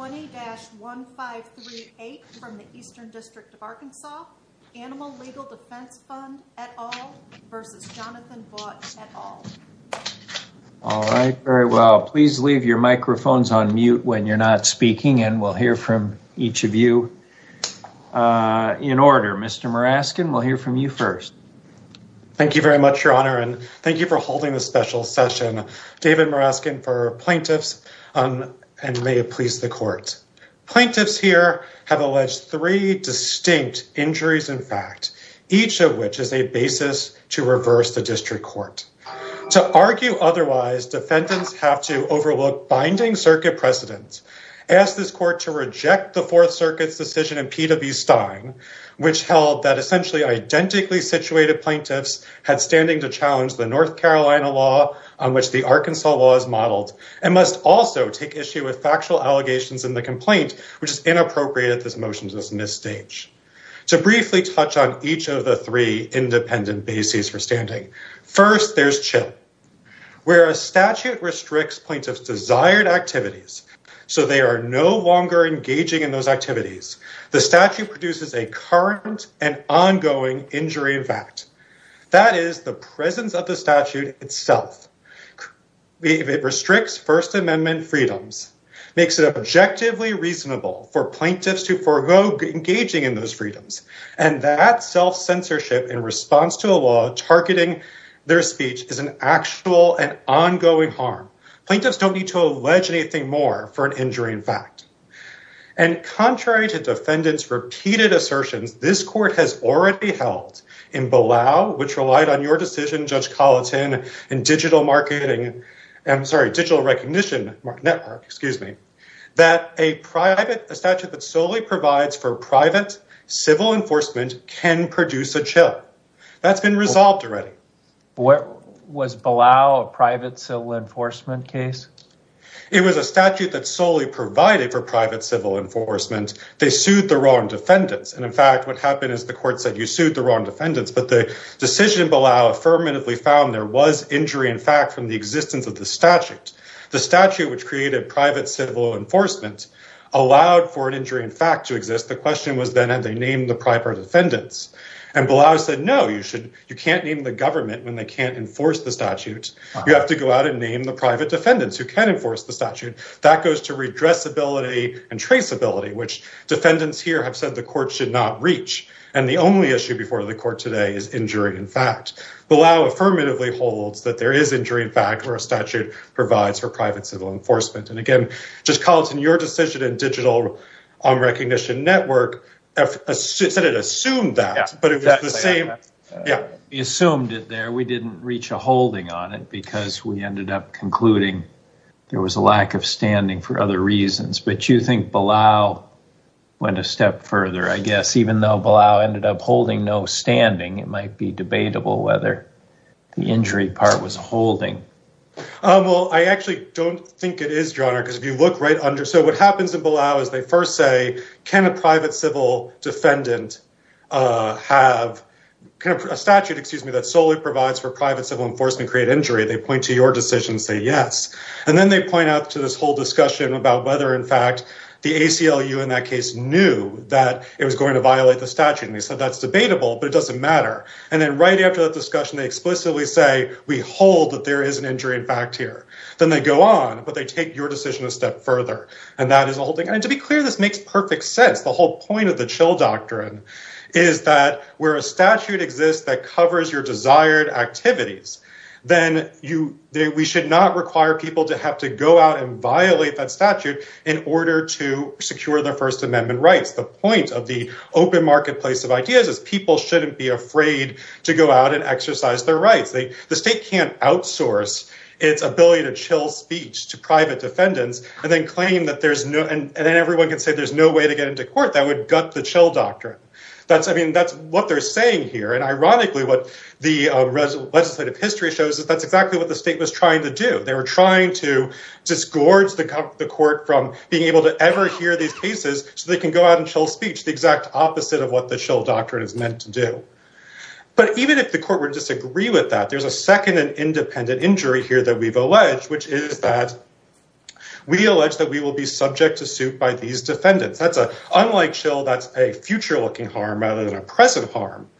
All right, very well. Please leave your microphones on mute when you're not speaking and we'll hear from each of you in order. Mr. Muraskin, we'll hear from you first. Thank you very much, Your Honor, and thank you for holding this special session. David Plaintiffs here have alleged three distinct injuries, in fact, each of which is a basis to reverse the district court. To argue otherwise, defendants have to overlook binding circuit precedent, ask this court to reject the Fourth Circuit's decision in P.W. Stein, which held that essentially identically situated plaintiffs had standing to challenge the North Carolina law, on which the Arkansas law is modeled, and must also take issue with factual evidence. There are several allegations in the complaint, which is inappropriate if this motion is misstaged. To briefly touch on each of the three independent bases for standing, first, there's CHILP, where a statute restricts plaintiffs' desired activities, so they are no longer engaging in those activities. The statute produces a current and ongoing injury in fact. That is, the presence of the statute itself. It restricts First Amendment freedoms, makes it objectively reasonable for plaintiffs to forego engaging in those freedoms, and that self-censorship in response to a law targeting their speech is an actual and ongoing harm. Plaintiffs don't need to allege anything more for an injury in fact. And contrary to defendants' repeated assertions, this court has already held in Balao, which relied on your decision, Judge Colleton, in digital marketing, I'm sorry, digital recognition network, excuse me, that a private, a statute that solely provides for private civil enforcement can produce a CHILP. That's been resolved already. Was Balao a private civil enforcement case? You have to go out and name the private defendants who can enforce the statute. That goes to redressability and traceability, which defendants here have said the court should not reach. And the only issue before the court today is injury in fact. Balao affirmatively holds that there is injury in fact where a statute provides for private civil enforcement. And again, Judge Colleton, your decision in digital recognition network said it assumed that. We assumed it there. We didn't reach a holding on it because we ended up concluding there was a lack of standing for other reasons. But you think Balao went a step further, I guess, even though Balao ended up holding no standing, it might be debatable whether the injury part was holding. Well, I actually don't think it is, Your Honor, because if you look right under, so what happens in Balao is they first say, can a private civil defendant have a statute, excuse me, that solely provides for private civil enforcement create injury? They point to your decision, say yes. And then they point out to this whole discussion about whether, in fact, the ACLU in that case knew that it was going to violate the statute. And they said that's debatable, but it doesn't matter. And then right after that discussion, they explicitly say we hold that there is an injury in fact here. Then they go on, but they take your decision a step further. And to be clear, this makes perfect sense. The whole point of the chill doctrine is that where a statute exists that covers your desired activities, then we should not require people to have to go out and violate that statute in order to secure their First Amendment rights. The point of the open marketplace of ideas is people shouldn't be afraid to go out and exercise their rights. The state can't outsource its ability to chill speech to private defendants and then claim that there's no, and then everyone can say there's no way to get into court. That would gut the chill doctrine. That's what they're saying here. And ironically, what the legislative history shows is that's exactly what the state was trying to do. They were trying to disgorge the court from being able to ever hear these cases so they can go out and chill speech, the exact opposite of what the chill doctrine is meant to do. But even if the court would disagree with that, there's a second and independent injury here that we've alleged, which is that we allege that we will be subject to suit by these defendants. That's a, unlike chill, that's a future looking harm rather than a present harm.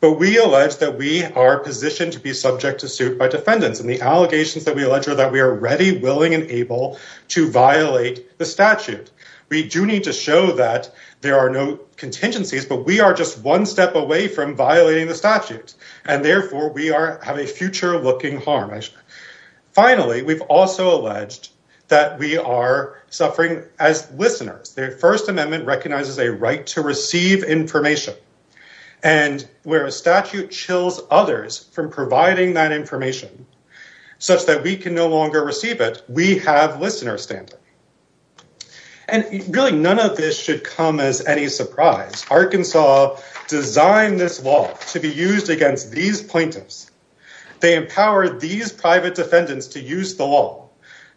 But we allege that we are positioned to be subject to suit by defendants, and the allegations that we allege are that we are ready, willing, and able to violate the statute. We do need to show that there are no contingencies, but we are just one step away from violating the statute, and therefore we have a future looking harm. Finally, we've also alleged that we are suffering as listeners. The First Amendment recognizes a right to receive information, and where a statute chills others from providing that information such that we can no longer receive it, we have listeners standing. And really none of this should come as any surprise. Arkansas designed this law to be used against these plaintiffs. They empowered these private defendants to use the law.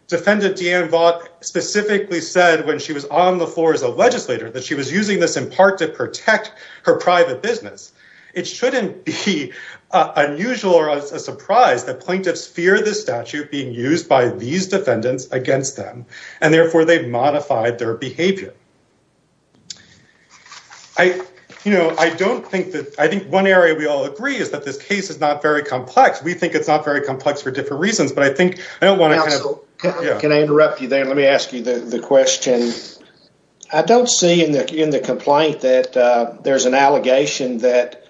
Defendant Deanne Vaught specifically said when she was on the floor as a legislator that she was using this in part to protect her private business. It shouldn't be unusual or a surprise that plaintiffs fear this statute being used by these defendants against them, and therefore they've modified their behavior. I think one area we all agree is that this case is not very complex. We think it's not very complex for different reasons, but I think I don't want to... I don't see in the complaint that there's an allegation that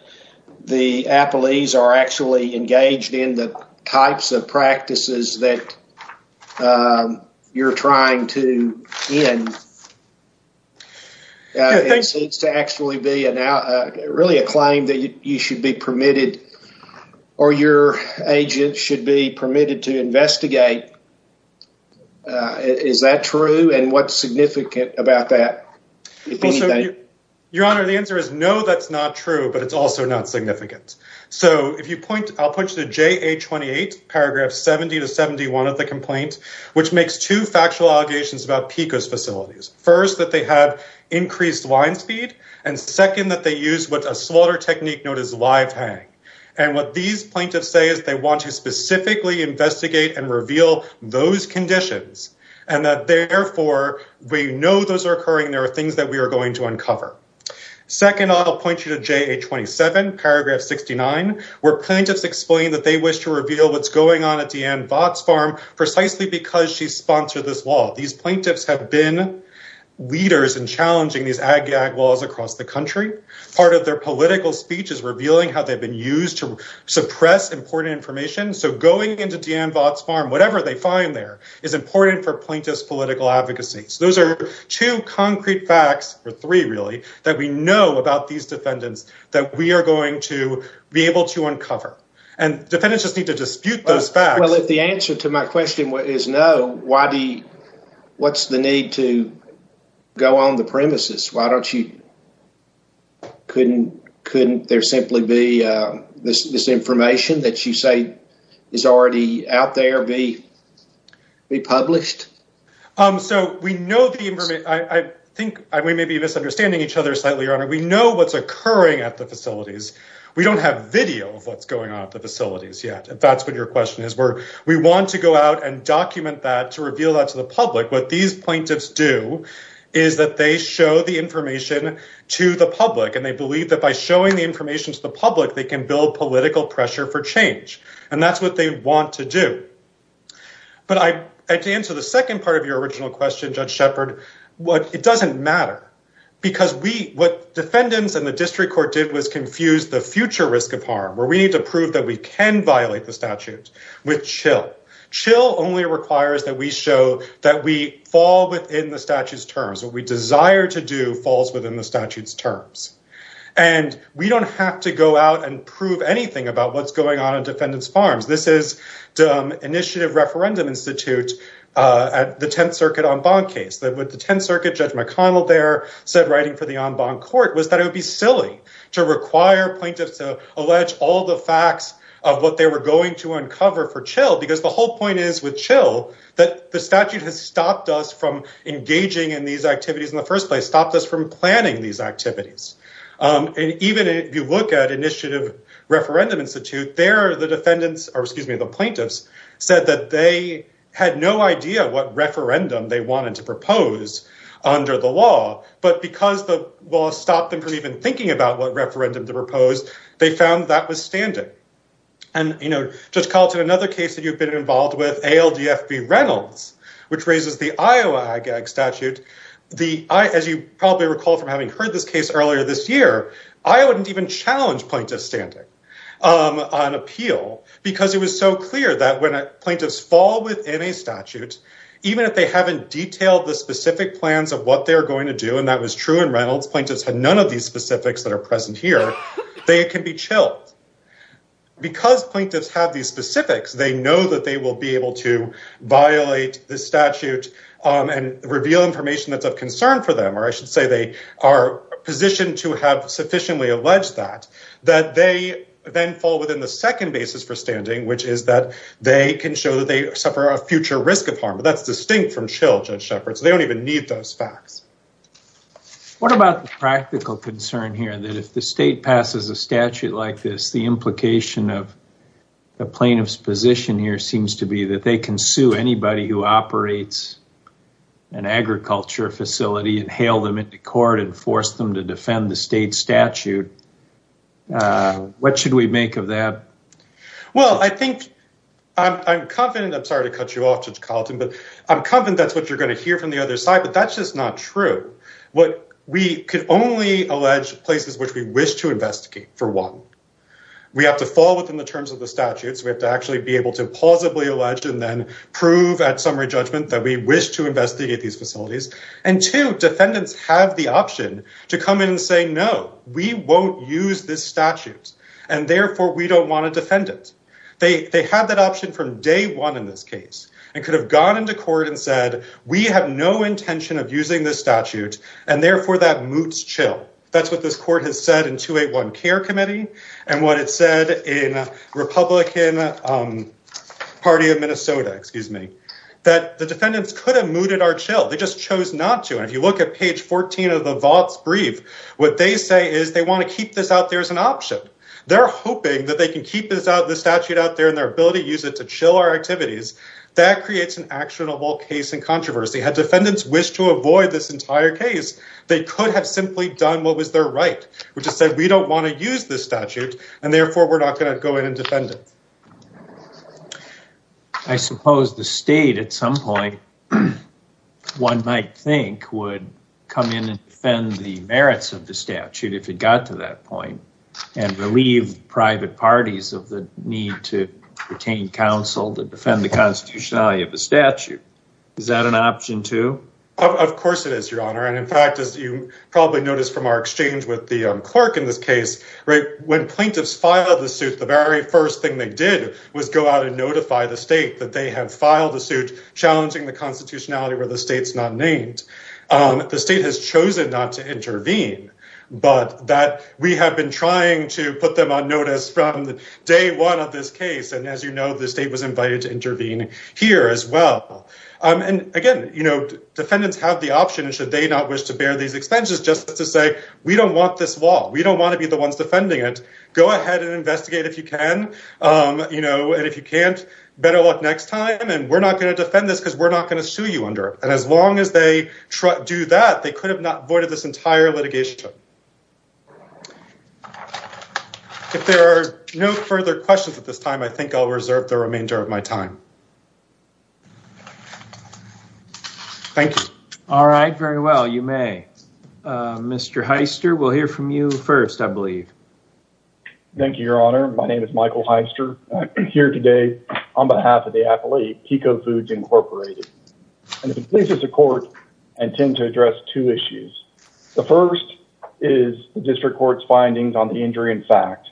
the appellees are actually engaged in the types of practices that you're trying to end. It seems to actually be really a claim that you should be permitted or your agent should be permitted to investigate. Is that true and what's significant about that? Your Honor, the answer is no, that's not true, but it's also not significant. So if you point... I'll put you to JA 28 paragraph 70 to 71 of the complaint, which makes two factual allegations about PCOS facilities. First, that they have increased line speed and second, that they use what a slaughter technique known as live hang. And what these plaintiffs say is they want to specifically investigate and reveal those conditions. And that therefore we know those are occurring, there are things that we are going to uncover. Second, I'll point you to JA 27 paragraph 69, where plaintiffs explain that they wish to reveal what's going on at Deanne Vought's farm precisely because she sponsored this law. These plaintiffs have been leaders in challenging these ag-gag laws across the country. Part of their political speech is revealing how they've been used to suppress important information. So going into Deanne Vought's farm, whatever they find there, is important for plaintiff's political advocacy. So those are two concrete facts, or three really, that we know about these defendants that we are going to be able to uncover. And defendants just need to dispute those facts. Well if the answer to my question is no, what's the need to go on the premises? Couldn't there simply be this information that you say is already out there be published? I think we may be misunderstanding each other slightly, Your Honor. We know what's occurring at the facilities. We don't have video of what's going on at the facilities yet, if that's what your question is. We want to go out and document that to reveal that to the public. What these plaintiffs do is that they show the information to the public. And they believe that by showing the information to the public, they can build political pressure for change. And that's what they want to do. But to answer the second part of your original question, Judge Shepard, it doesn't matter. Because what defendants and the district court did was confuse the future risk of harm, where we need to prove that we can violate the statute, with chill. Chill only requires that we show that we fall within the statute's terms. What we desire to do falls within the statute's terms. And we don't have to go out and prove anything about what's going on in defendants' farms. This is Initiative Referendum Institute at the Tenth Circuit en banc case. With the Tenth Circuit, Judge McConnell there said writing for the en banc court was that it would be silly to require plaintiffs to allege all the facts of what they were going to uncover for chill. Because the whole point is with chill that the statute has stopped us from engaging in these activities in the first place, stopped us from planning these activities. And even if you look at Initiative Referendum Institute, the plaintiffs said that they had no idea what referendum they wanted to propose under the law. But because the law stopped them from even thinking about what referendum to propose, they found that was standing. And, you know, Judge Carlton, another case that you've been involved with, ALDF v. Reynolds, which raises the Iowa IGAG statute. As you probably recall from having heard this case earlier this year, Iowa didn't even challenge plaintiffs' standing on appeal. Because it was so clear that when plaintiffs fall within a statute, even if they haven't detailed the specific plans of what they're going to do, and that was true in Reynolds, plaintiffs had none of these specifics that are present here, they can be chilled. But because plaintiffs have these specifics, they know that they will be able to violate the statute and reveal information that's of concern for them, or I should say they are positioned to have sufficiently alleged that, that they then fall within the second basis for standing, which is that they can show that they suffer a future risk of harm. That's distinct from chill, Judge Shepard, so they don't even need those facts. What about the practical concern here that if the state passes a statute like this, the implication of the plaintiff's position here seems to be that they can sue anybody who operates an agriculture facility and hail them into court and force them to defend the state statute. What should we make of that? Well, I think, I'm confident, I'm sorry to cut you off, Judge Carlton, but I'm confident that's what you're going to hear from the other side, but that's just not true. We could only allege places which we wish to investigate, for one. We have to fall within the terms of the statute, so we have to actually be able to plausibly allege and then prove at summary judgment that we wish to investigate these facilities. And two, defendants have the option to come in and say, no, we won't use this statute, and therefore we don't want to defend it. They have that option from day one in this case and could have gone into court and said, we have no intention of using this statute, and therefore that moots chill. That's what this court has said in 281 Care Committee and what it said in Republican Party of Minnesota, excuse me, that the defendants could have mooted our chill. They just chose not to, and if you look at page 14 of the Vaught's brief, what they say is they want to keep this out there as an option. They're hoping that they can keep this statute out there and their ability to use it to chill our activities. That creates an actionable case in controversy. Had defendants wished to avoid this entire case, they could have simply done what was their right, which is that we don't want to use this statute, and therefore we're not going to go in and defend it. I suppose the state at some point one might think would come in and defend the merits of the statute if it got to that point and relieve private parties of the need to retain counsel to defend the constitutionality of the statute. Is that an option too? Of course it is, Your Honor, and in fact, as you probably noticed from our exchange with the clerk in this case, when plaintiffs filed the suit, the very first thing they did was go out and notify the state that they had filed the suit challenging the constitutionality where the state's not named. The state has chosen not to intervene, but that we have been trying to put them on notice from day one of this case, and as you know, the state was invited to intervene here as well. Again, defendants have the option, should they not wish to bear these expenses, just to say, we don't want this law. We don't want to be the ones defending it. Go ahead and investigate if you can, and if you can't, better luck next time, and we're not going to defend this because we're not going to sue you under it. As long as they do that, they could have avoided this entire litigation. If there are no further questions at this time, I think I'll reserve the remainder of my time. Thank you. All right. Very well. You may. Mr. Heister, we'll hear from you first, I believe. Thank you, Your Honor. My name is Michael Heister. I'm here today on behalf of the appellee, Pico Foods Incorporated. I'm going to please the court and tend to address two issues. The first is the district court's findings on the injury in fact.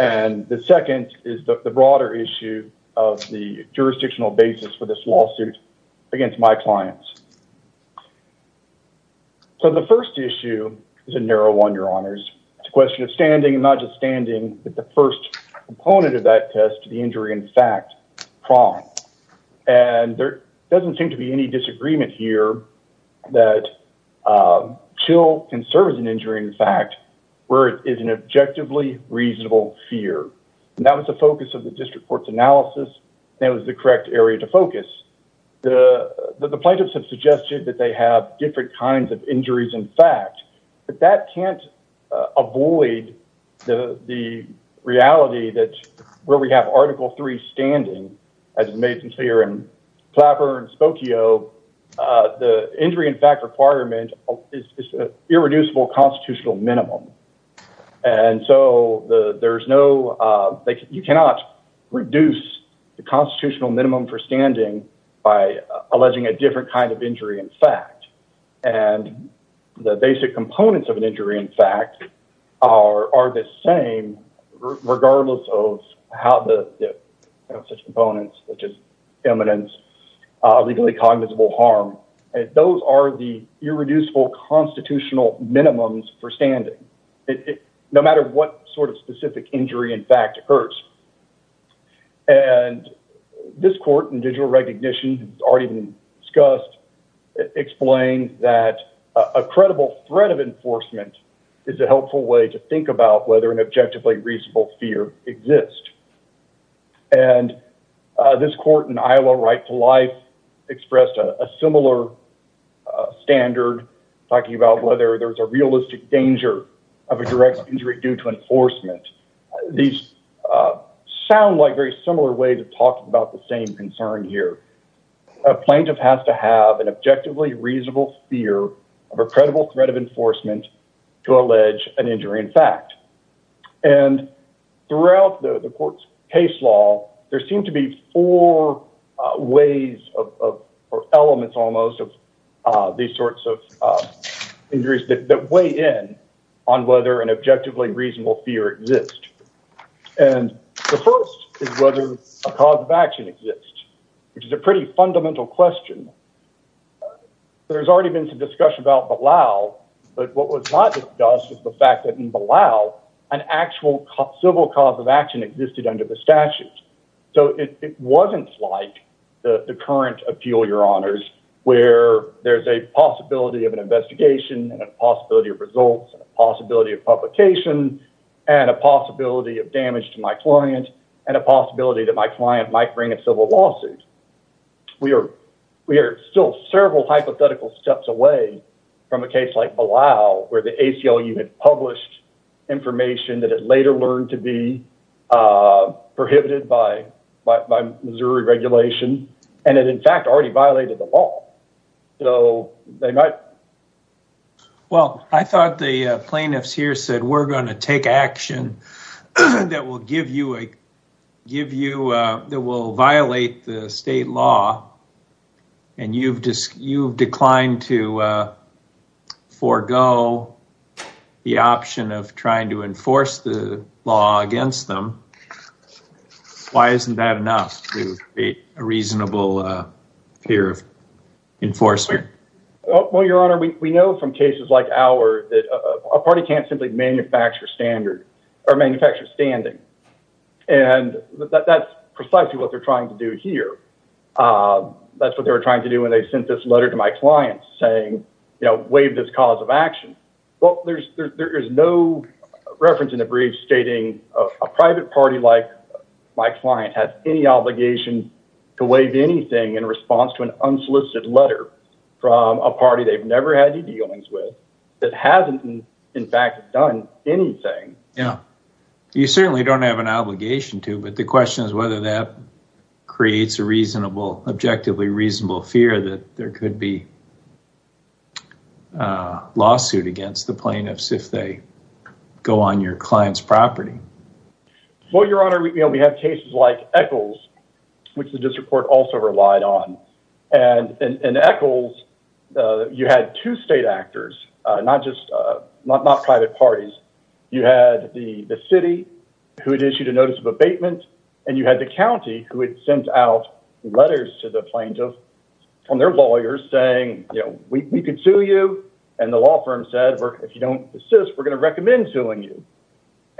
And the second is the broader issue of the jurisdictional basis for this lawsuit against my clients. So the first issue is a narrow one, Your Honors. It's a question of standing, and not just standing, but the first component of that test, the injury in fact problem. And there doesn't seem to be any disagreement here that chill can serve as an injury in fact, where it is an objectively reasonable fear. And that was the focus of the district court's analysis, and it was the correct area to focus. The plaintiffs have suggested that they have different kinds of injuries in fact. But that can't avoid the reality that where we have Article 3 standing, as made clear in Clapper and Spokio, the injury in fact requirement is an irreducible constitutional minimum. And so you cannot reduce the constitutional minimum for standing by alleging a different kind of injury in fact. And the basic components of an injury in fact are the same, regardless of how the components, which is eminence, legally cognizable harm. Those are the irreducible constitutional minimums for standing. No matter what sort of specific injury in fact occurs. And this court in digital recognition, already discussed, explained that a credible threat of enforcement is a helpful way to think about whether an objectively reasonable fear exists. And this court in Iowa Right to Life expressed a similar standard, talking about whether there's a realistic danger of a direct injury due to enforcement. These sound like very similar ways of talking about the same concern here. A plaintiff has to have an objectively reasonable fear of a credible threat of enforcement to allege an injury in fact. And throughout the court's case law, there seem to be four ways or elements almost of these sorts of injuries that weigh in on whether an objectively reasonable fear exists. And the first is whether a cause of action exists, which is a pretty fundamental question. There's already been some discussion about Bilal, but what was not discussed was the fact that in Bilal, an actual civil cause of action existed under the statute. So it wasn't like the current appeal, Your Honors, where there's a possibility of an investigation, and a possibility of results, and a possibility of publication, and a possibility of damage to my client, and a possibility that my client might bring a civil lawsuit. We are still several hypothetical steps away from a case like Bilal, where the ACLU had published information that had later learned to be prohibited by Missouri regulation, and it in fact already violated the law. So they might. Well, I thought the plaintiffs here said, we're going to take action that will violate the state law, and you've declined to forego the option of trying to enforce the law against them. Why isn't that enough to create a reasonable fear of enforcement? Well, Your Honor, we know from cases like ours that a party can't simply manufacture standing. And that's precisely what they're trying to do here. That's what they were trying to do when they sent this letter to my client saying, you know, waive this cause of action. Well, there is no reference in the brief stating a private party like my client has any obligation to waive anything in response to an unsolicited letter from a party they've never had any dealings with that hasn't in fact done anything. You certainly don't have an obligation to, but the question is whether that creates a reasonable, objectively reasonable fear that there could be a lawsuit against the plaintiffs if they go on your client's property. Well, Your Honor, we have cases like Eccles, which the district court also relied on. And in Eccles, you had two state actors, not just private parties. You had the city who had issued a notice of abatement, and you had the county who had sent out letters to the plaintiffs from their lawyers saying, you know, we could sue you. And the law firm said, if you don't assist, we're going to recommend suing you.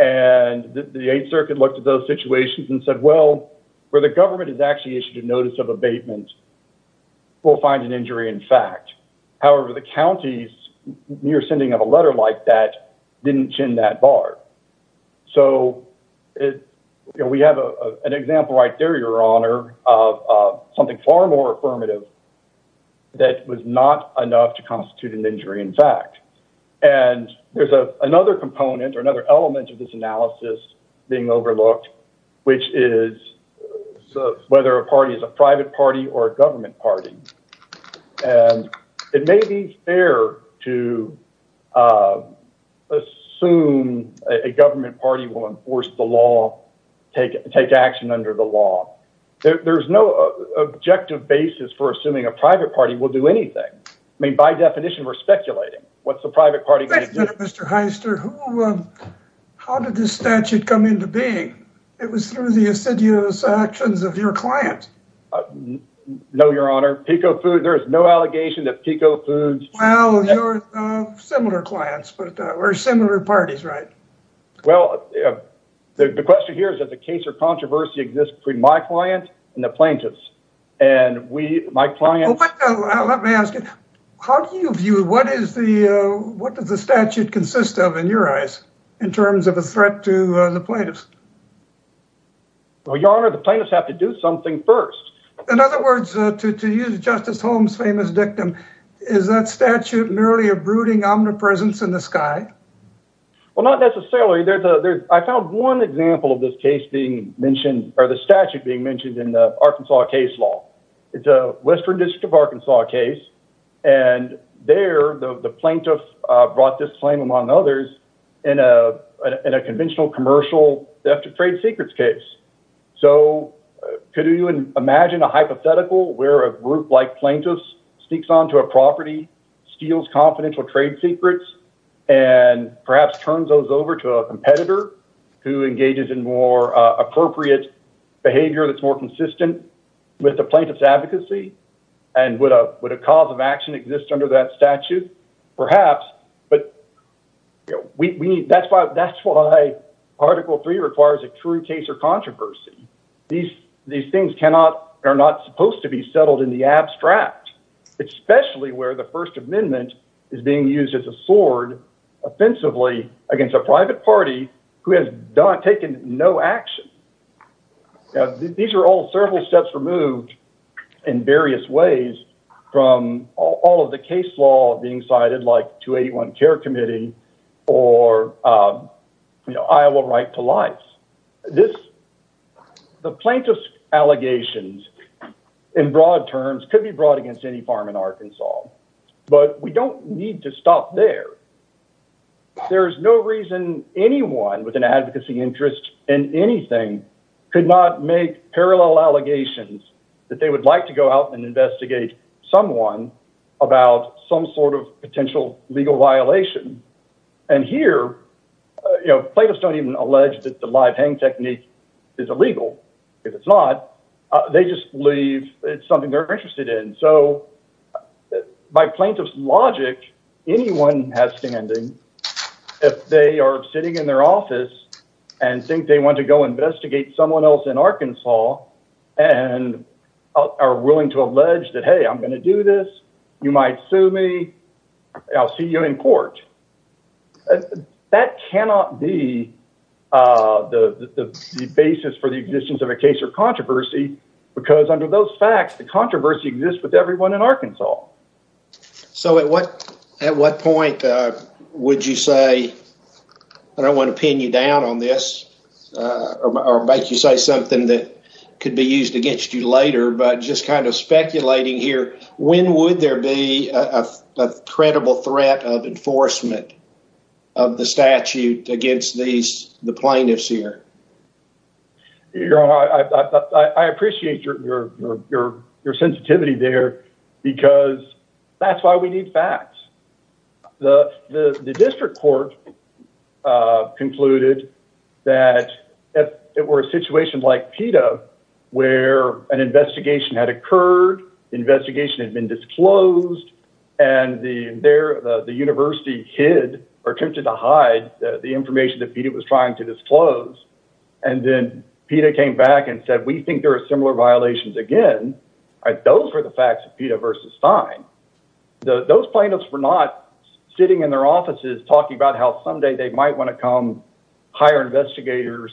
And the Eighth Circuit looked at those situations and said, well, where the government has actually issued a notice of abatement, we'll find an injury in fact. However, the counties, when you're sending out a letter like that, didn't chin that bar. So we have an example right there, Your Honor, of something far more affirmative that was not enough to constitute an injury in fact. And there's another component or another element of this analysis being overlooked, which is whether a party is a private party or a government party. And it may be fair to assume a government party will enforce the law, take action under the law. There's no objective basis for assuming a private party will do anything. I mean, by definition, we're speculating. What's the private party going to do? Mr. Heister, how did this statute come into being? It was through the assiduous actions of your client. No, Your Honor. PICO Foods, there is no allegation that PICO Foods. Well, you're similar clients, but we're similar parties, right? Well, the question here is that the case of controversy exists between my client and the plaintiffs. And we, my clients. Let me ask you, how do you view, what is the, what does the statute consist of in your eyes in terms of a threat to the plaintiffs? Well, Your Honor, the plaintiffs have to do something first. In other words, to use Justice Holmes' famous dictum, is that statute merely a brooding omnipresence in the sky? Well, not necessarily. I found one example of this case being mentioned, or the statute being mentioned in the Arkansas case law. It's a Western District of Arkansas case. And there, the plaintiff brought this claim, among others, in a conventional commercial theft of trade secrets case. So could you imagine a hypothetical where a group like plaintiffs sneaks onto a property, steals confidential trade secrets, and perhaps turns those over to a competitor who engages in more appropriate behavior that's more consistent with the plaintiff's advocacy? And would a cause of action exist under that statute? Perhaps, but that's why Article III requires a true case of controversy. These things cannot, are not supposed to be settled in the abstract. Especially where the First Amendment is being used as a sword offensively against a private party who has taken no action. These are all several steps removed in various ways from all of the case law being cited, like 281 Care Committee or Iowa Right to Life. The plaintiff's allegations, in broad terms, could be brought against any farm in Arkansas. But we don't need to stop there. There's no reason anyone with an advocacy interest in anything could not make parallel allegations that they would like to go out and investigate someone about some sort of potential legal violation. And here, you know, plaintiffs don't even allege that the live hang technique is illegal. If it's not, they just believe it's something they're interested in. So by plaintiff's logic, anyone has standing if they are sitting in their office and think they want to go investigate someone else in Arkansas and are willing to allege that, hey, I'm going to do this. You might sue me. I'll see you in court. That cannot be the basis for the existence of a case of controversy, because under those facts, the controversy exists with everyone in Arkansas. So at what point would you say? I don't want to pin you down on this or make you say something that could be used against you later, but just kind of speculating here. When would there be a credible threat of enforcement of the statute against these plaintiffs here? You know, I appreciate your sensitivity there because that's why we need facts. The district court concluded that if it were a situation like PETA, where an investigation had occurred, investigation had been disclosed, and the university hid or attempted to hide the information that PETA was trying to disclose, and then PETA came back and said, we think there are similar violations again. Those were the facts of PETA versus Stein. Those plaintiffs were not sitting in their offices talking about how someday they might want to come hire investigators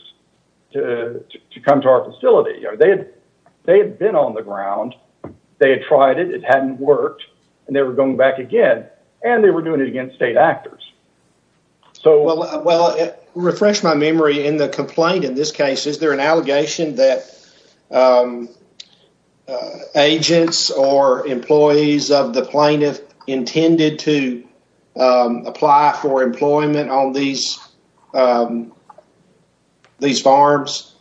to come to our facility. They had been on the ground, they had tried it, it hadn't worked, and they were going back again, and they were doing it against state actors. Well, to refresh my memory, in the complaint in this case, is there an allegation that agents or employees of the plaintiff intended to apply for employment on these farms?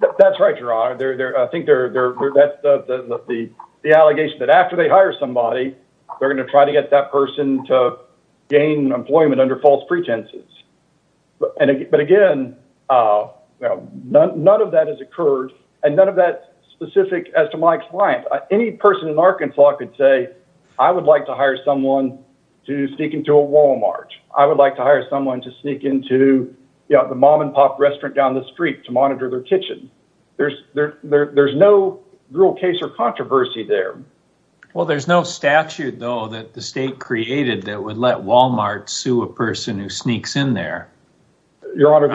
That's right, Your Honor. I think that's the allegation, that after they hire somebody, they're going to try to get that person to gain employment under false pretenses. But again, none of that has occurred, and none of that's specific as to my client. Any person in Arkansas could say, I would like to hire someone to sneak into a Walmart. I would like to hire someone to sneak into the mom-and-pop restaurant down the street to monitor their kitchen. There's no real case or controversy there. Well, there's no statute, though, that the state created that would let Walmart sue a person who sneaks in there. Your Honor,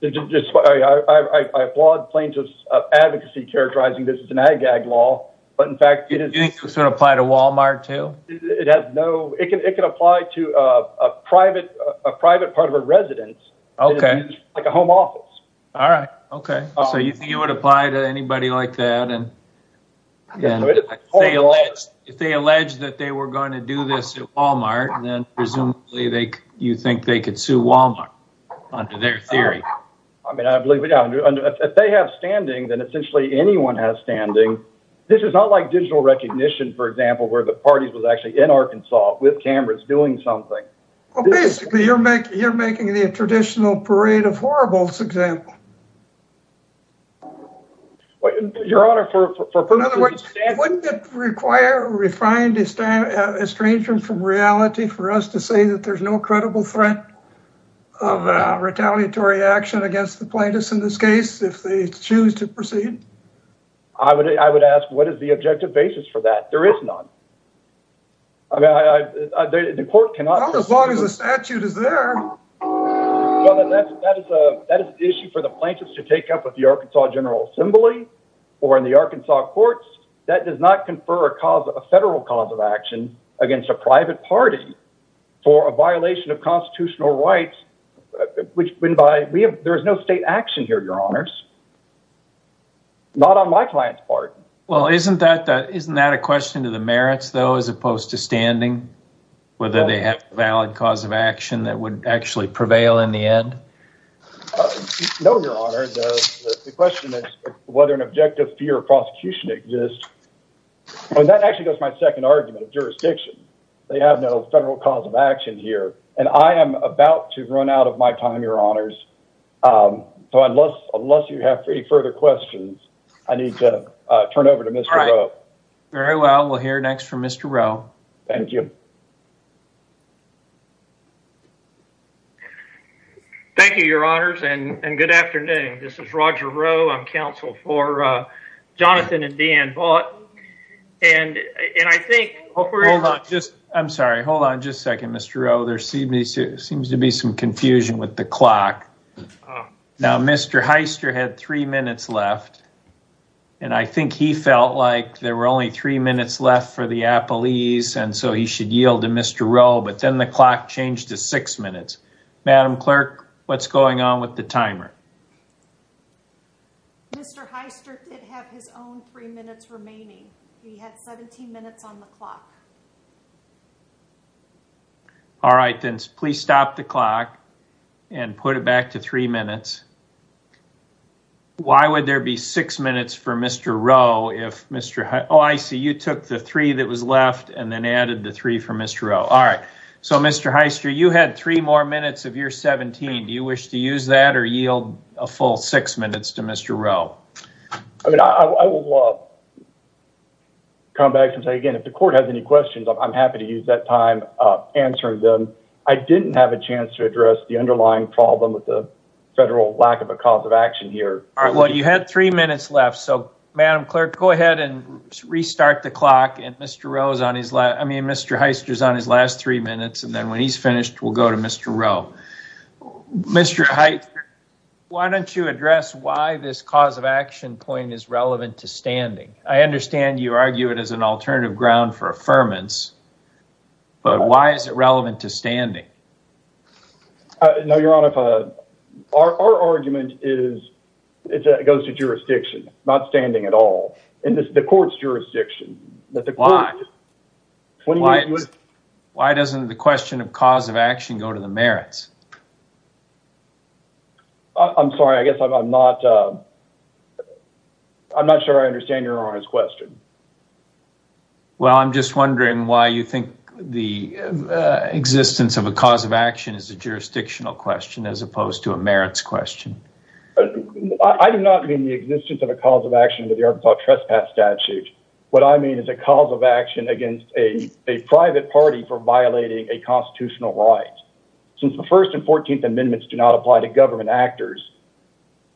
I applaud plaintiffs' advocacy characterizing this as an ag-gag law, but in fact it is... Do you think this would apply to Walmart, too? It can apply to a private part of a residence, like a home office. All right, okay. So you think it would apply to anybody like that? If they allege that they were going to do this at Walmart, then presumably you think they could sue Walmart under their theory? I mean, if they have standing, then essentially anyone has standing. This is not like digital recognition, for example, where the parties were actually in Arkansas with cameras doing something. Well, basically you're making the traditional parade of horribles example. Your Honor, for... against the plaintiffs in this case if they choose to proceed? I would ask, what is the objective basis for that? There is none. I mean, the court cannot... Not as long as the statute is there. Well, then that is an issue for the plaintiffs to take up with the Arkansas General Assembly or in the Arkansas courts. That does not confer a federal cause of action against a private party for a violation of constitutional rights, which, there is no state action here, Your Honors. Not on my client's part. Well, isn't that a question to the merits, though, as opposed to standing? Whether they have a valid cause of action that would actually prevail in the end? No, Your Honor. The question is whether an objective fear of prosecution exists. And that actually goes to my second argument of jurisdiction. They have no federal cause of action here. And I am about to run out of my time, Your Honors. So, unless you have any further questions, I need to turn it over to Mr. Rowe. All right. Very well. We'll hear next from Mr. Rowe. Thank you. Thank you, Your Honors, and good afternoon. This is Roger Rowe. I'm counsel for Jonathan and Dan Vaught. And I think... Hold on. I'm sorry. Hold on just a second, Mr. Rowe. There seems to be some confusion with the clock. Now, Mr. Hyster had three minutes left. And I think he felt like there were only three minutes left for the appellees, and so he should yield to Mr. Rowe. But then the clock changed to six minutes. Madam Clerk, what's going on with the timer? Mr. Hyster did have his own three minutes remaining. He had 17 minutes on the clock. All right. Then please stop the clock and put it back to three minutes. Why would there be six minutes for Mr. Rowe if Mr. Hyster... Oh, I see. You took the three that was left and then added the three for Mr. Rowe. All right. So, Mr. Hyster, you had three more minutes of your 17. Do you wish to use that or yield a full six minutes to Mr. Rowe? I mean, I will come back and say again, if the court has any questions, I'm happy to use that time answering them. I didn't have a chance to address the underlying problem with the federal lack of a cause of action here. All right. Well, you had three minutes left. So, Madam Clerk, go ahead and restart the clock. And Mr. Rowe is on his last... I mean, Mr. Hyster is on his last three minutes. And then when he's finished, we'll go to Mr. Rowe. Mr. Hyster, why don't you address why this cause of action point is relevant to standing? I understand you argue it as an alternative ground for affirmance. But why is it relevant to standing? No, Your Honor. Our argument is that it goes to jurisdiction, not standing at all, in the court's jurisdiction. Why? Why doesn't the question of cause of action go to the merits? I'm sorry. I guess I'm not... I'm not sure I understand Your Honor's question. Well, I'm just wondering why you think the existence of a cause of action is a jurisdictional question as opposed to a merits question. I do not mean the existence of a cause of action under the Arkansas Trespass Statute. What I mean is a cause of action against a private party for violating a constitutional right. Since the First and Fourteenth Amendments do not apply to government actors,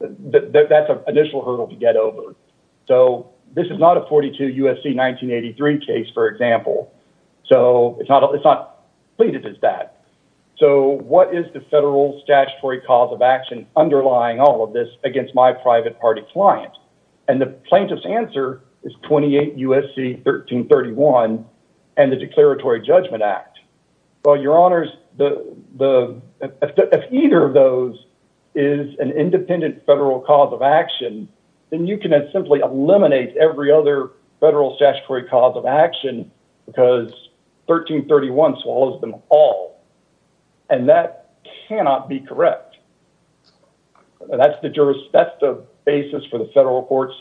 that's an initial hurdle to get over. So, this is not a 42 U.S.C. 1983 case, for example. So, it's not pleaded as that. So, what is the federal statutory cause of action underlying all of this against my private party client? And the plaintiff's answer is 28 U.S.C. 1331 and the Declaratory Judgment Act. Well, Your Honors, if either of those is an independent federal cause of action, then you can simply eliminate every other federal statutory cause of action because 1331 swallows them all. And that cannot be correct. That's the basis for the federal court's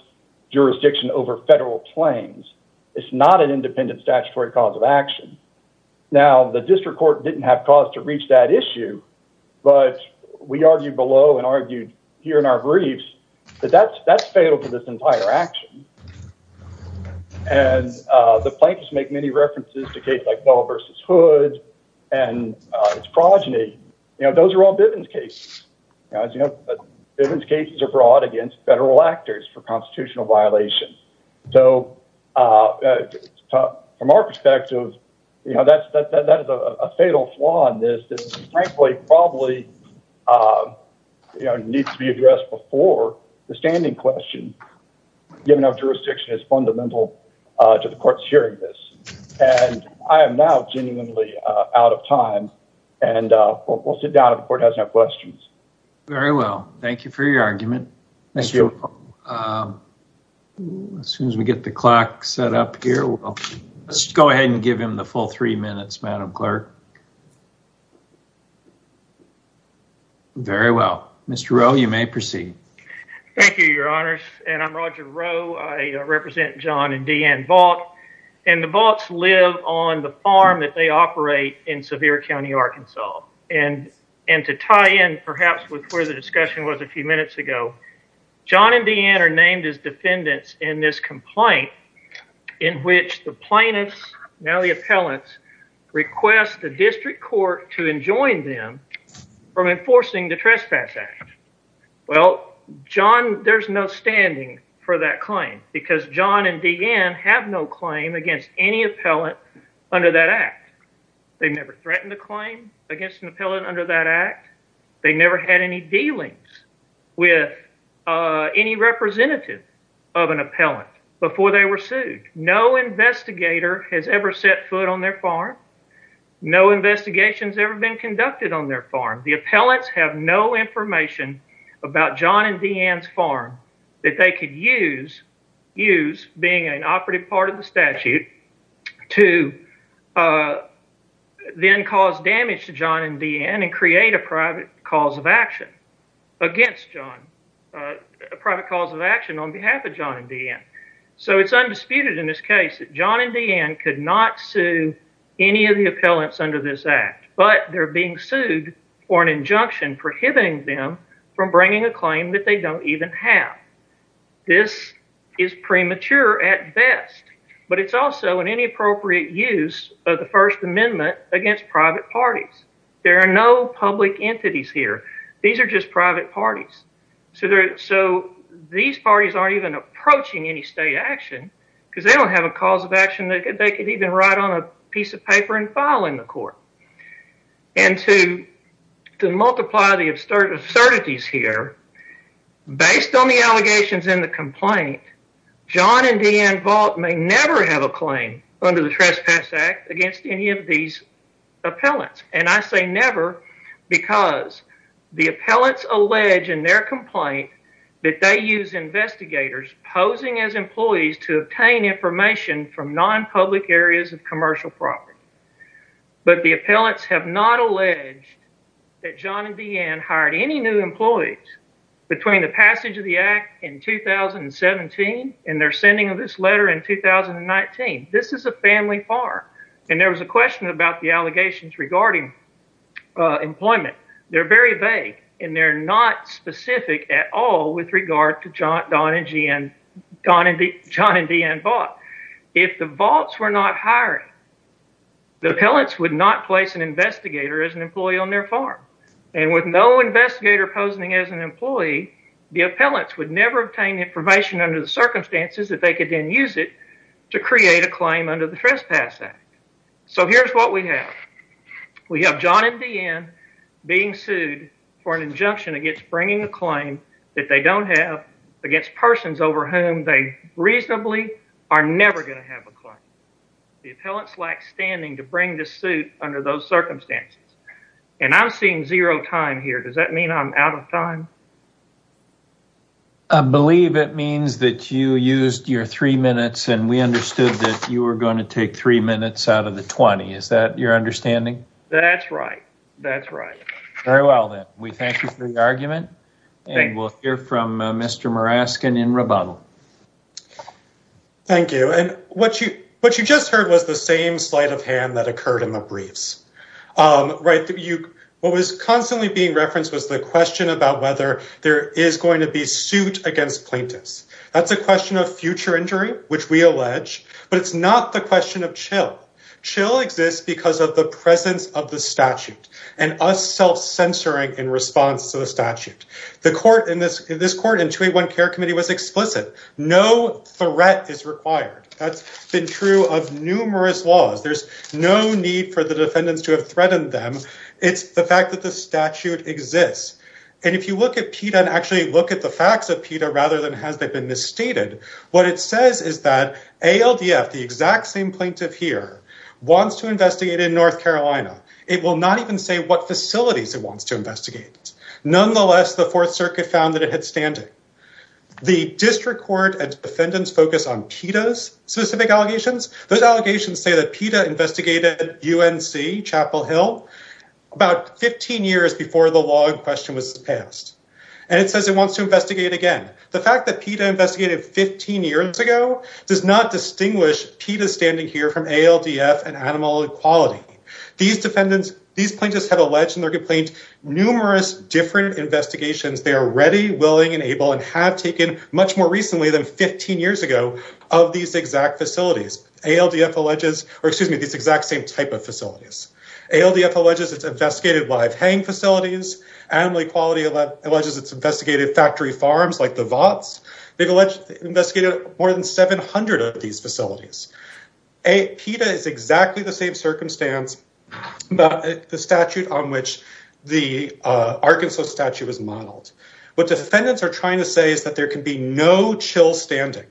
jurisdiction over federal claims. It's not an independent statutory cause of action. Now, the district court didn't have cause to reach that issue, but we argued below and argued here in our briefs that that's fatal to this entire action. And the plaintiffs make many references to cases like Bell v. Hood and its progeny. Those are all Bivens cases. As you know, Bivens cases are brought against federal actors for constitutional violations. So, from our perspective, that is a fatal flaw in this that, frankly, probably needs to be addressed before the standing question, given our jurisdiction is fundamental to the court's hearing this. And I am now genuinely out of time, and we'll sit down if the court has no questions. Very well. Thank you for your argument. Thank you. As soon as we get the clock set up here, we'll go ahead and give him the full three minutes, Madam Clerk. Very well. Mr. Rowe, you may proceed. Thank you, Your Honors. And I'm Roger Rowe. I represent John and Deanne Vaught. And the Vaughts live on the farm that they operate in Sevier County, Arkansas. And to tie in, perhaps, with where the discussion was a few minutes ago, John and Deanne are named as defendants in this complaint in which the plaintiffs, now the appellants, request the district court to enjoin them from enforcing the Trespass Act. Well, John, there's no standing for that claim, because John and Deanne have no claim against any appellant under that act. They've never threatened a claim against an appellant under that act. They've never had any dealings with any representative of an appellant before they were sued. No investigator has ever set foot on their farm. No investigation has ever been conducted on their farm. The appellants have no information about John and Deanne's farm that they could use, being an operative part of the statute, to then cause damage to John and Deanne and create a private cause of action. Against John, a private cause of action on behalf of John and Deanne. So it's undisputed in this case that John and Deanne could not sue any of the appellants under this act, but they're being sued for an injunction prohibiting them from bringing a claim that they don't even have. This is premature at best, but it's also an inappropriate use of the First Amendment against private parties. There are no public entities here. These are just private parties. So these parties aren't even approaching any state action because they don't have a cause of action that they could even write on a piece of paper and file in the court. And to multiply the absurdities here, based on the allegations in the complaint, John and Deanne Volk may never have a claim under the Trespass Act against any of these appellants. And I say never because the appellants allege in their complaint that they use investigators posing as employees to obtain information from non-public areas of commercial property. But the appellants have not alleged that John and Deanne hired any new employees between the passage of the act in 2017 and their sending of this letter in 2019. This is a family bar. And there was a question about the allegations regarding employment. They're very vague and they're not specific at all with regard to John and Deanne Volk. If the Volks were not hiring, the appellants would not place an investigator as an employee on their farm. And with no investigator posing as an employee, the appellants would never obtain information under the circumstances that they could then use it to create a claim under the Trespass Act. So here's what we have. We have John and Deanne being sued for an injunction against bringing a claim that they don't have against persons over whom they reasonably are never going to have a claim. The appellants lack standing to bring this suit under those circumstances. And I'm seeing zero time here. Does that mean I'm out of time? I believe it means that you used your three minutes and we understood that you were going to take three minutes out of the 20. Is that your understanding? That's right. That's right. Very well, then. We thank you for the argument. And we'll hear from Mr. Muraskin in rebuttal. Thank you. And what you just heard was the same sleight of hand that occurred in the briefs. What was constantly being referenced was the question about whether there is going to be suit against plaintiffs. which we allege, but it's not the question of chill. It exists because of the presence of the statute and us self-censoring in response to the statute. This court in 281 Care Committee was explicit. No threat is required. That's been true of numerous laws. There's no need for the defendants to have threatened them. It's the fact that the statute exists. And if you look at PETA and actually look at the facts of PETA rather than has they been misstated, what it says is that ALDF, the exact same plaintiff here, wants to investigate in North Carolina. It will not even say what facilities it wants to investigate. Nonetheless, the Fourth Circuit found that it had standing. The district court and defendants focus on PETA's specific allegations. Those allegations say that PETA investigated UNC Chapel Hill about 15 years before the law in question was passed. And it says it wants to investigate again. The fact that PETA investigated 15 years ago does not distinguish PETA standing here from ALDF and Animal Equality. These plaintiffs have alleged and they've complained numerous different investigations they are ready, willing, and able and have taken much more recently than 15 years ago of these exact facilities. ALDF alleges, or excuse me, these exact same type of facilities. ALDF alleges it's investigated live hang facilities. Animal Equality alleges it's investigated factory farms like the Vaughts. They've alleged it's investigated more than 700 of these facilities. PETA is exactly the same circumstance about the statute on which the Arkansas statute was modeled. What defendants are trying to say is that there can be no chill standing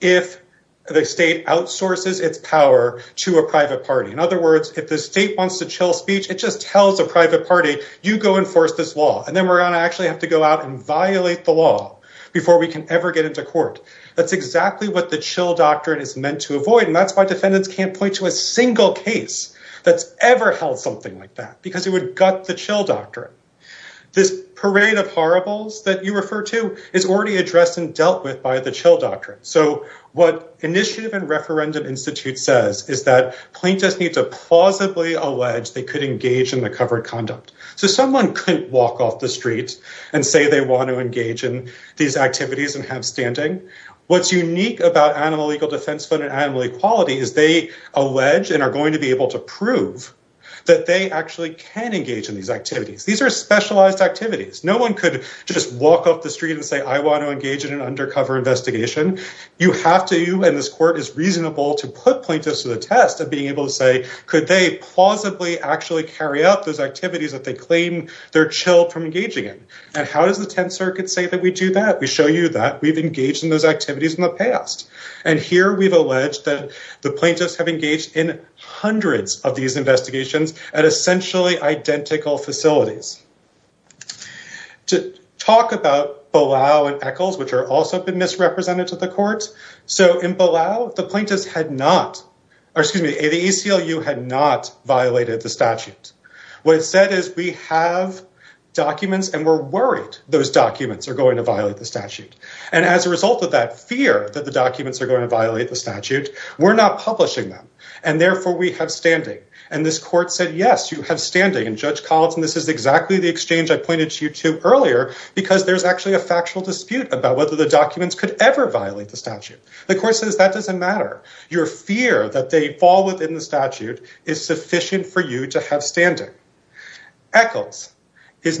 if the state outsources its power to a private party. In other words, if the state wants to chill speech, it just tells a private party, you go enforce this law. And then we're going to actually never get into court. That's exactly what the chill doctrine is meant to avoid. And that's why defendants can't point to a single case that's ever held something like that because it would gut the chill doctrine. This parade of horribles that you refer to is already addressed and dealt with by the chill doctrine. So what Initiative and Referendum Institute says is that plaintiffs need to plausibly allege they could engage in the covered conduct. So someone couldn't walk off the street and say they want to engage in these activities and have standing. What's unique about Animal Legal Defense Fund and Animal Equality is they allege and are going to be able to prove that they actually can engage in these activities. These are specialized activities. No one could just walk off the street and say I want to engage in an undercover investigation. You have to, and this court is reasonable to put plaintiffs to the test of being able to say, could they plausibly actually carry out those activities that they claim and how does the Tenth Circuit say that we do that? We show you that we've engaged in those activities in the past. And here we've alleged that the plaintiffs have engaged in hundreds of these investigations at essentially identical facilities. To talk about Balao and Eccles, which are also been misrepresented to the court. So in Balao, the plaintiffs had not, or excuse me, the ACLU had not violated the statute. What it said is we have documents and we're worried those documents are going to violate the statute. And as a result of that fear that the documents are going to violate the statute, we're not publishing them. And therefore we have standing. And this court said, yes, you have standing. And Judge Collinson, this is exactly the exchange I pointed to you to earlier because there's actually a factual dispute about whether the documents could ever violate the statute. The court says that doesn't matter. Your fear that they fall within the statute is sufficient for you to have standing. In Eccles, the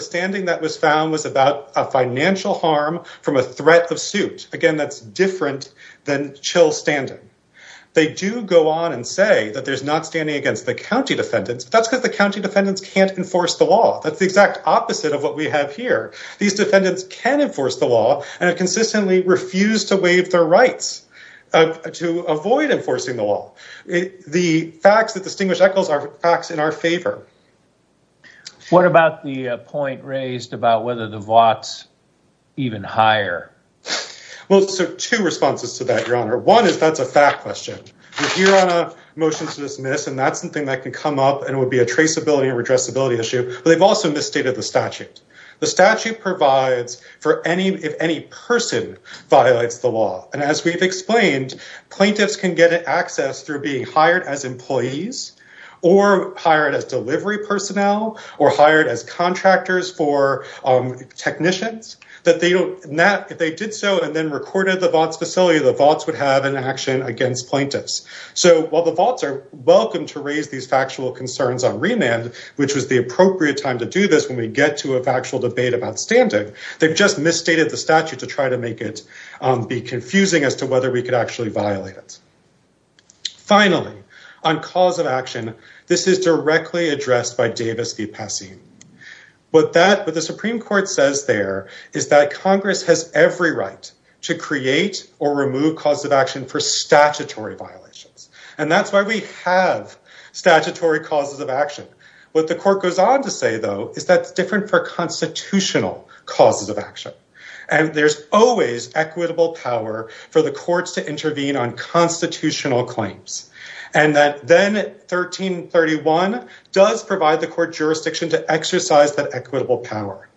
standing that was found was about a financial harm from a threat of suit. Again, that's different than chill standing. They do go on and say that there's not standing against the county defendants. That's because the county defendants can't enforce the law. That's the exact opposite of what we have here. These defendants can enforce the law and have consistently refused to waive their rights to avoid enforcing the law. The facts that distinguish Eccles are facts in our favor. What about the point raised about whether the VOTS even hire? Well, so two responses to that, Your Honor. One is that's a fact question. We're here on a motion to dismiss and that's something that can come up and it would be a traceability or redressability issue. But they've also misstated the statute. The statute provides for any, if any person violates the law. And as we've explained, plaintiffs can get access through being hired as employees or hired as delivery personnel or hired as contractors for technicians. If they did so and then recorded the VOTS facility, the VOTS would have an action against plaintiffs. So while the VOTS are welcome to raise these factual concerns on remand, which was the appropriate time to do this when we get to a factual debate about standing, they've just misstated the statute to try to make it be confusing as to whether we could actually violate it. Finally, on cause of action, this is directly addressed by Davis v. Pesce. What the Supreme Court says there is that Congress has every right to create or remove cause of action for statutory violations. And that's why we have statutory causes of action. What the court goes on to say, though, is that it's different for constitutional causes of action. And there's always equitable power for the courts to intervene on constitutional claims. And that then 1331 does provide the court jurisdiction to exercise that equitable power.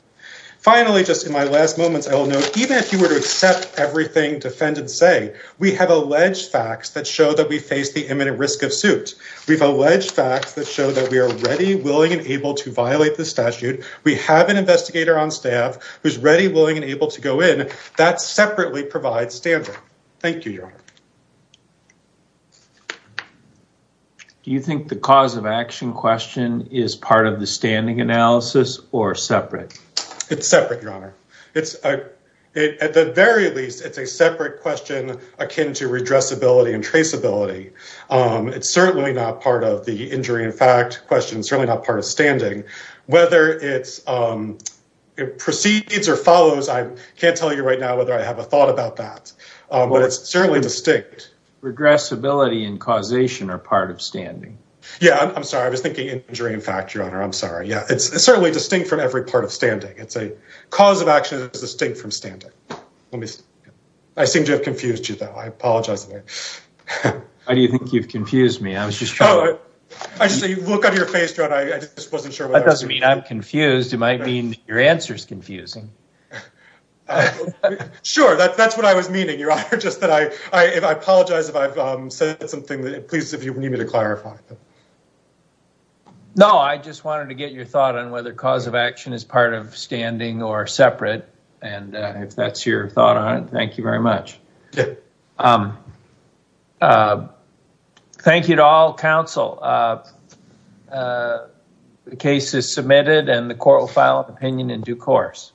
Finally, just in my last moments, I will note, even if you were to accept everything defendants say, we have alleged facts that show that we face the imminent risk of suit. We've alleged facts that show that we are ready, willing, and able to violate the statute. We have an investigator on staff who's ready, willing, and able to go in. That separately provides standard. Thank you, Your Honor. Do you think the cause of action question is part of the standing analysis or separate? It's separate, Your Honor. At the very least, it's a separate question akin to redressability and traceability. It's certainly not part of the injury in fact question, certainly not part of standing. Whether it proceeds or follows, I can't tell you right now whether I have a thought about that. But it's certainly distinct. Redressability and causation are part of standing. Yeah, I'm sorry. I was thinking injury in fact, Your Honor. I'm sorry. Yeah, it's certainly distinct from every part of standing. It's a cause of action that's distinct from standing. I seem to have confused you, though. I apologize. Why do you think you've confused me? I was just trying to… I see you look on your face, Your Honor. I just wasn't sure… That doesn't mean I'm confused. It might mean your answer is confusing. Sure, that's what I was meaning, Your Honor. Just that I apologize if I've said something that it pleases you for me to clarify. No, I just wanted to get your thought on whether cause of action is part of standing or separate. And if that's your thought on it, thank you very much. Yeah. Thank you to all counsel. The case is submitted and the court will file an opinion in due course.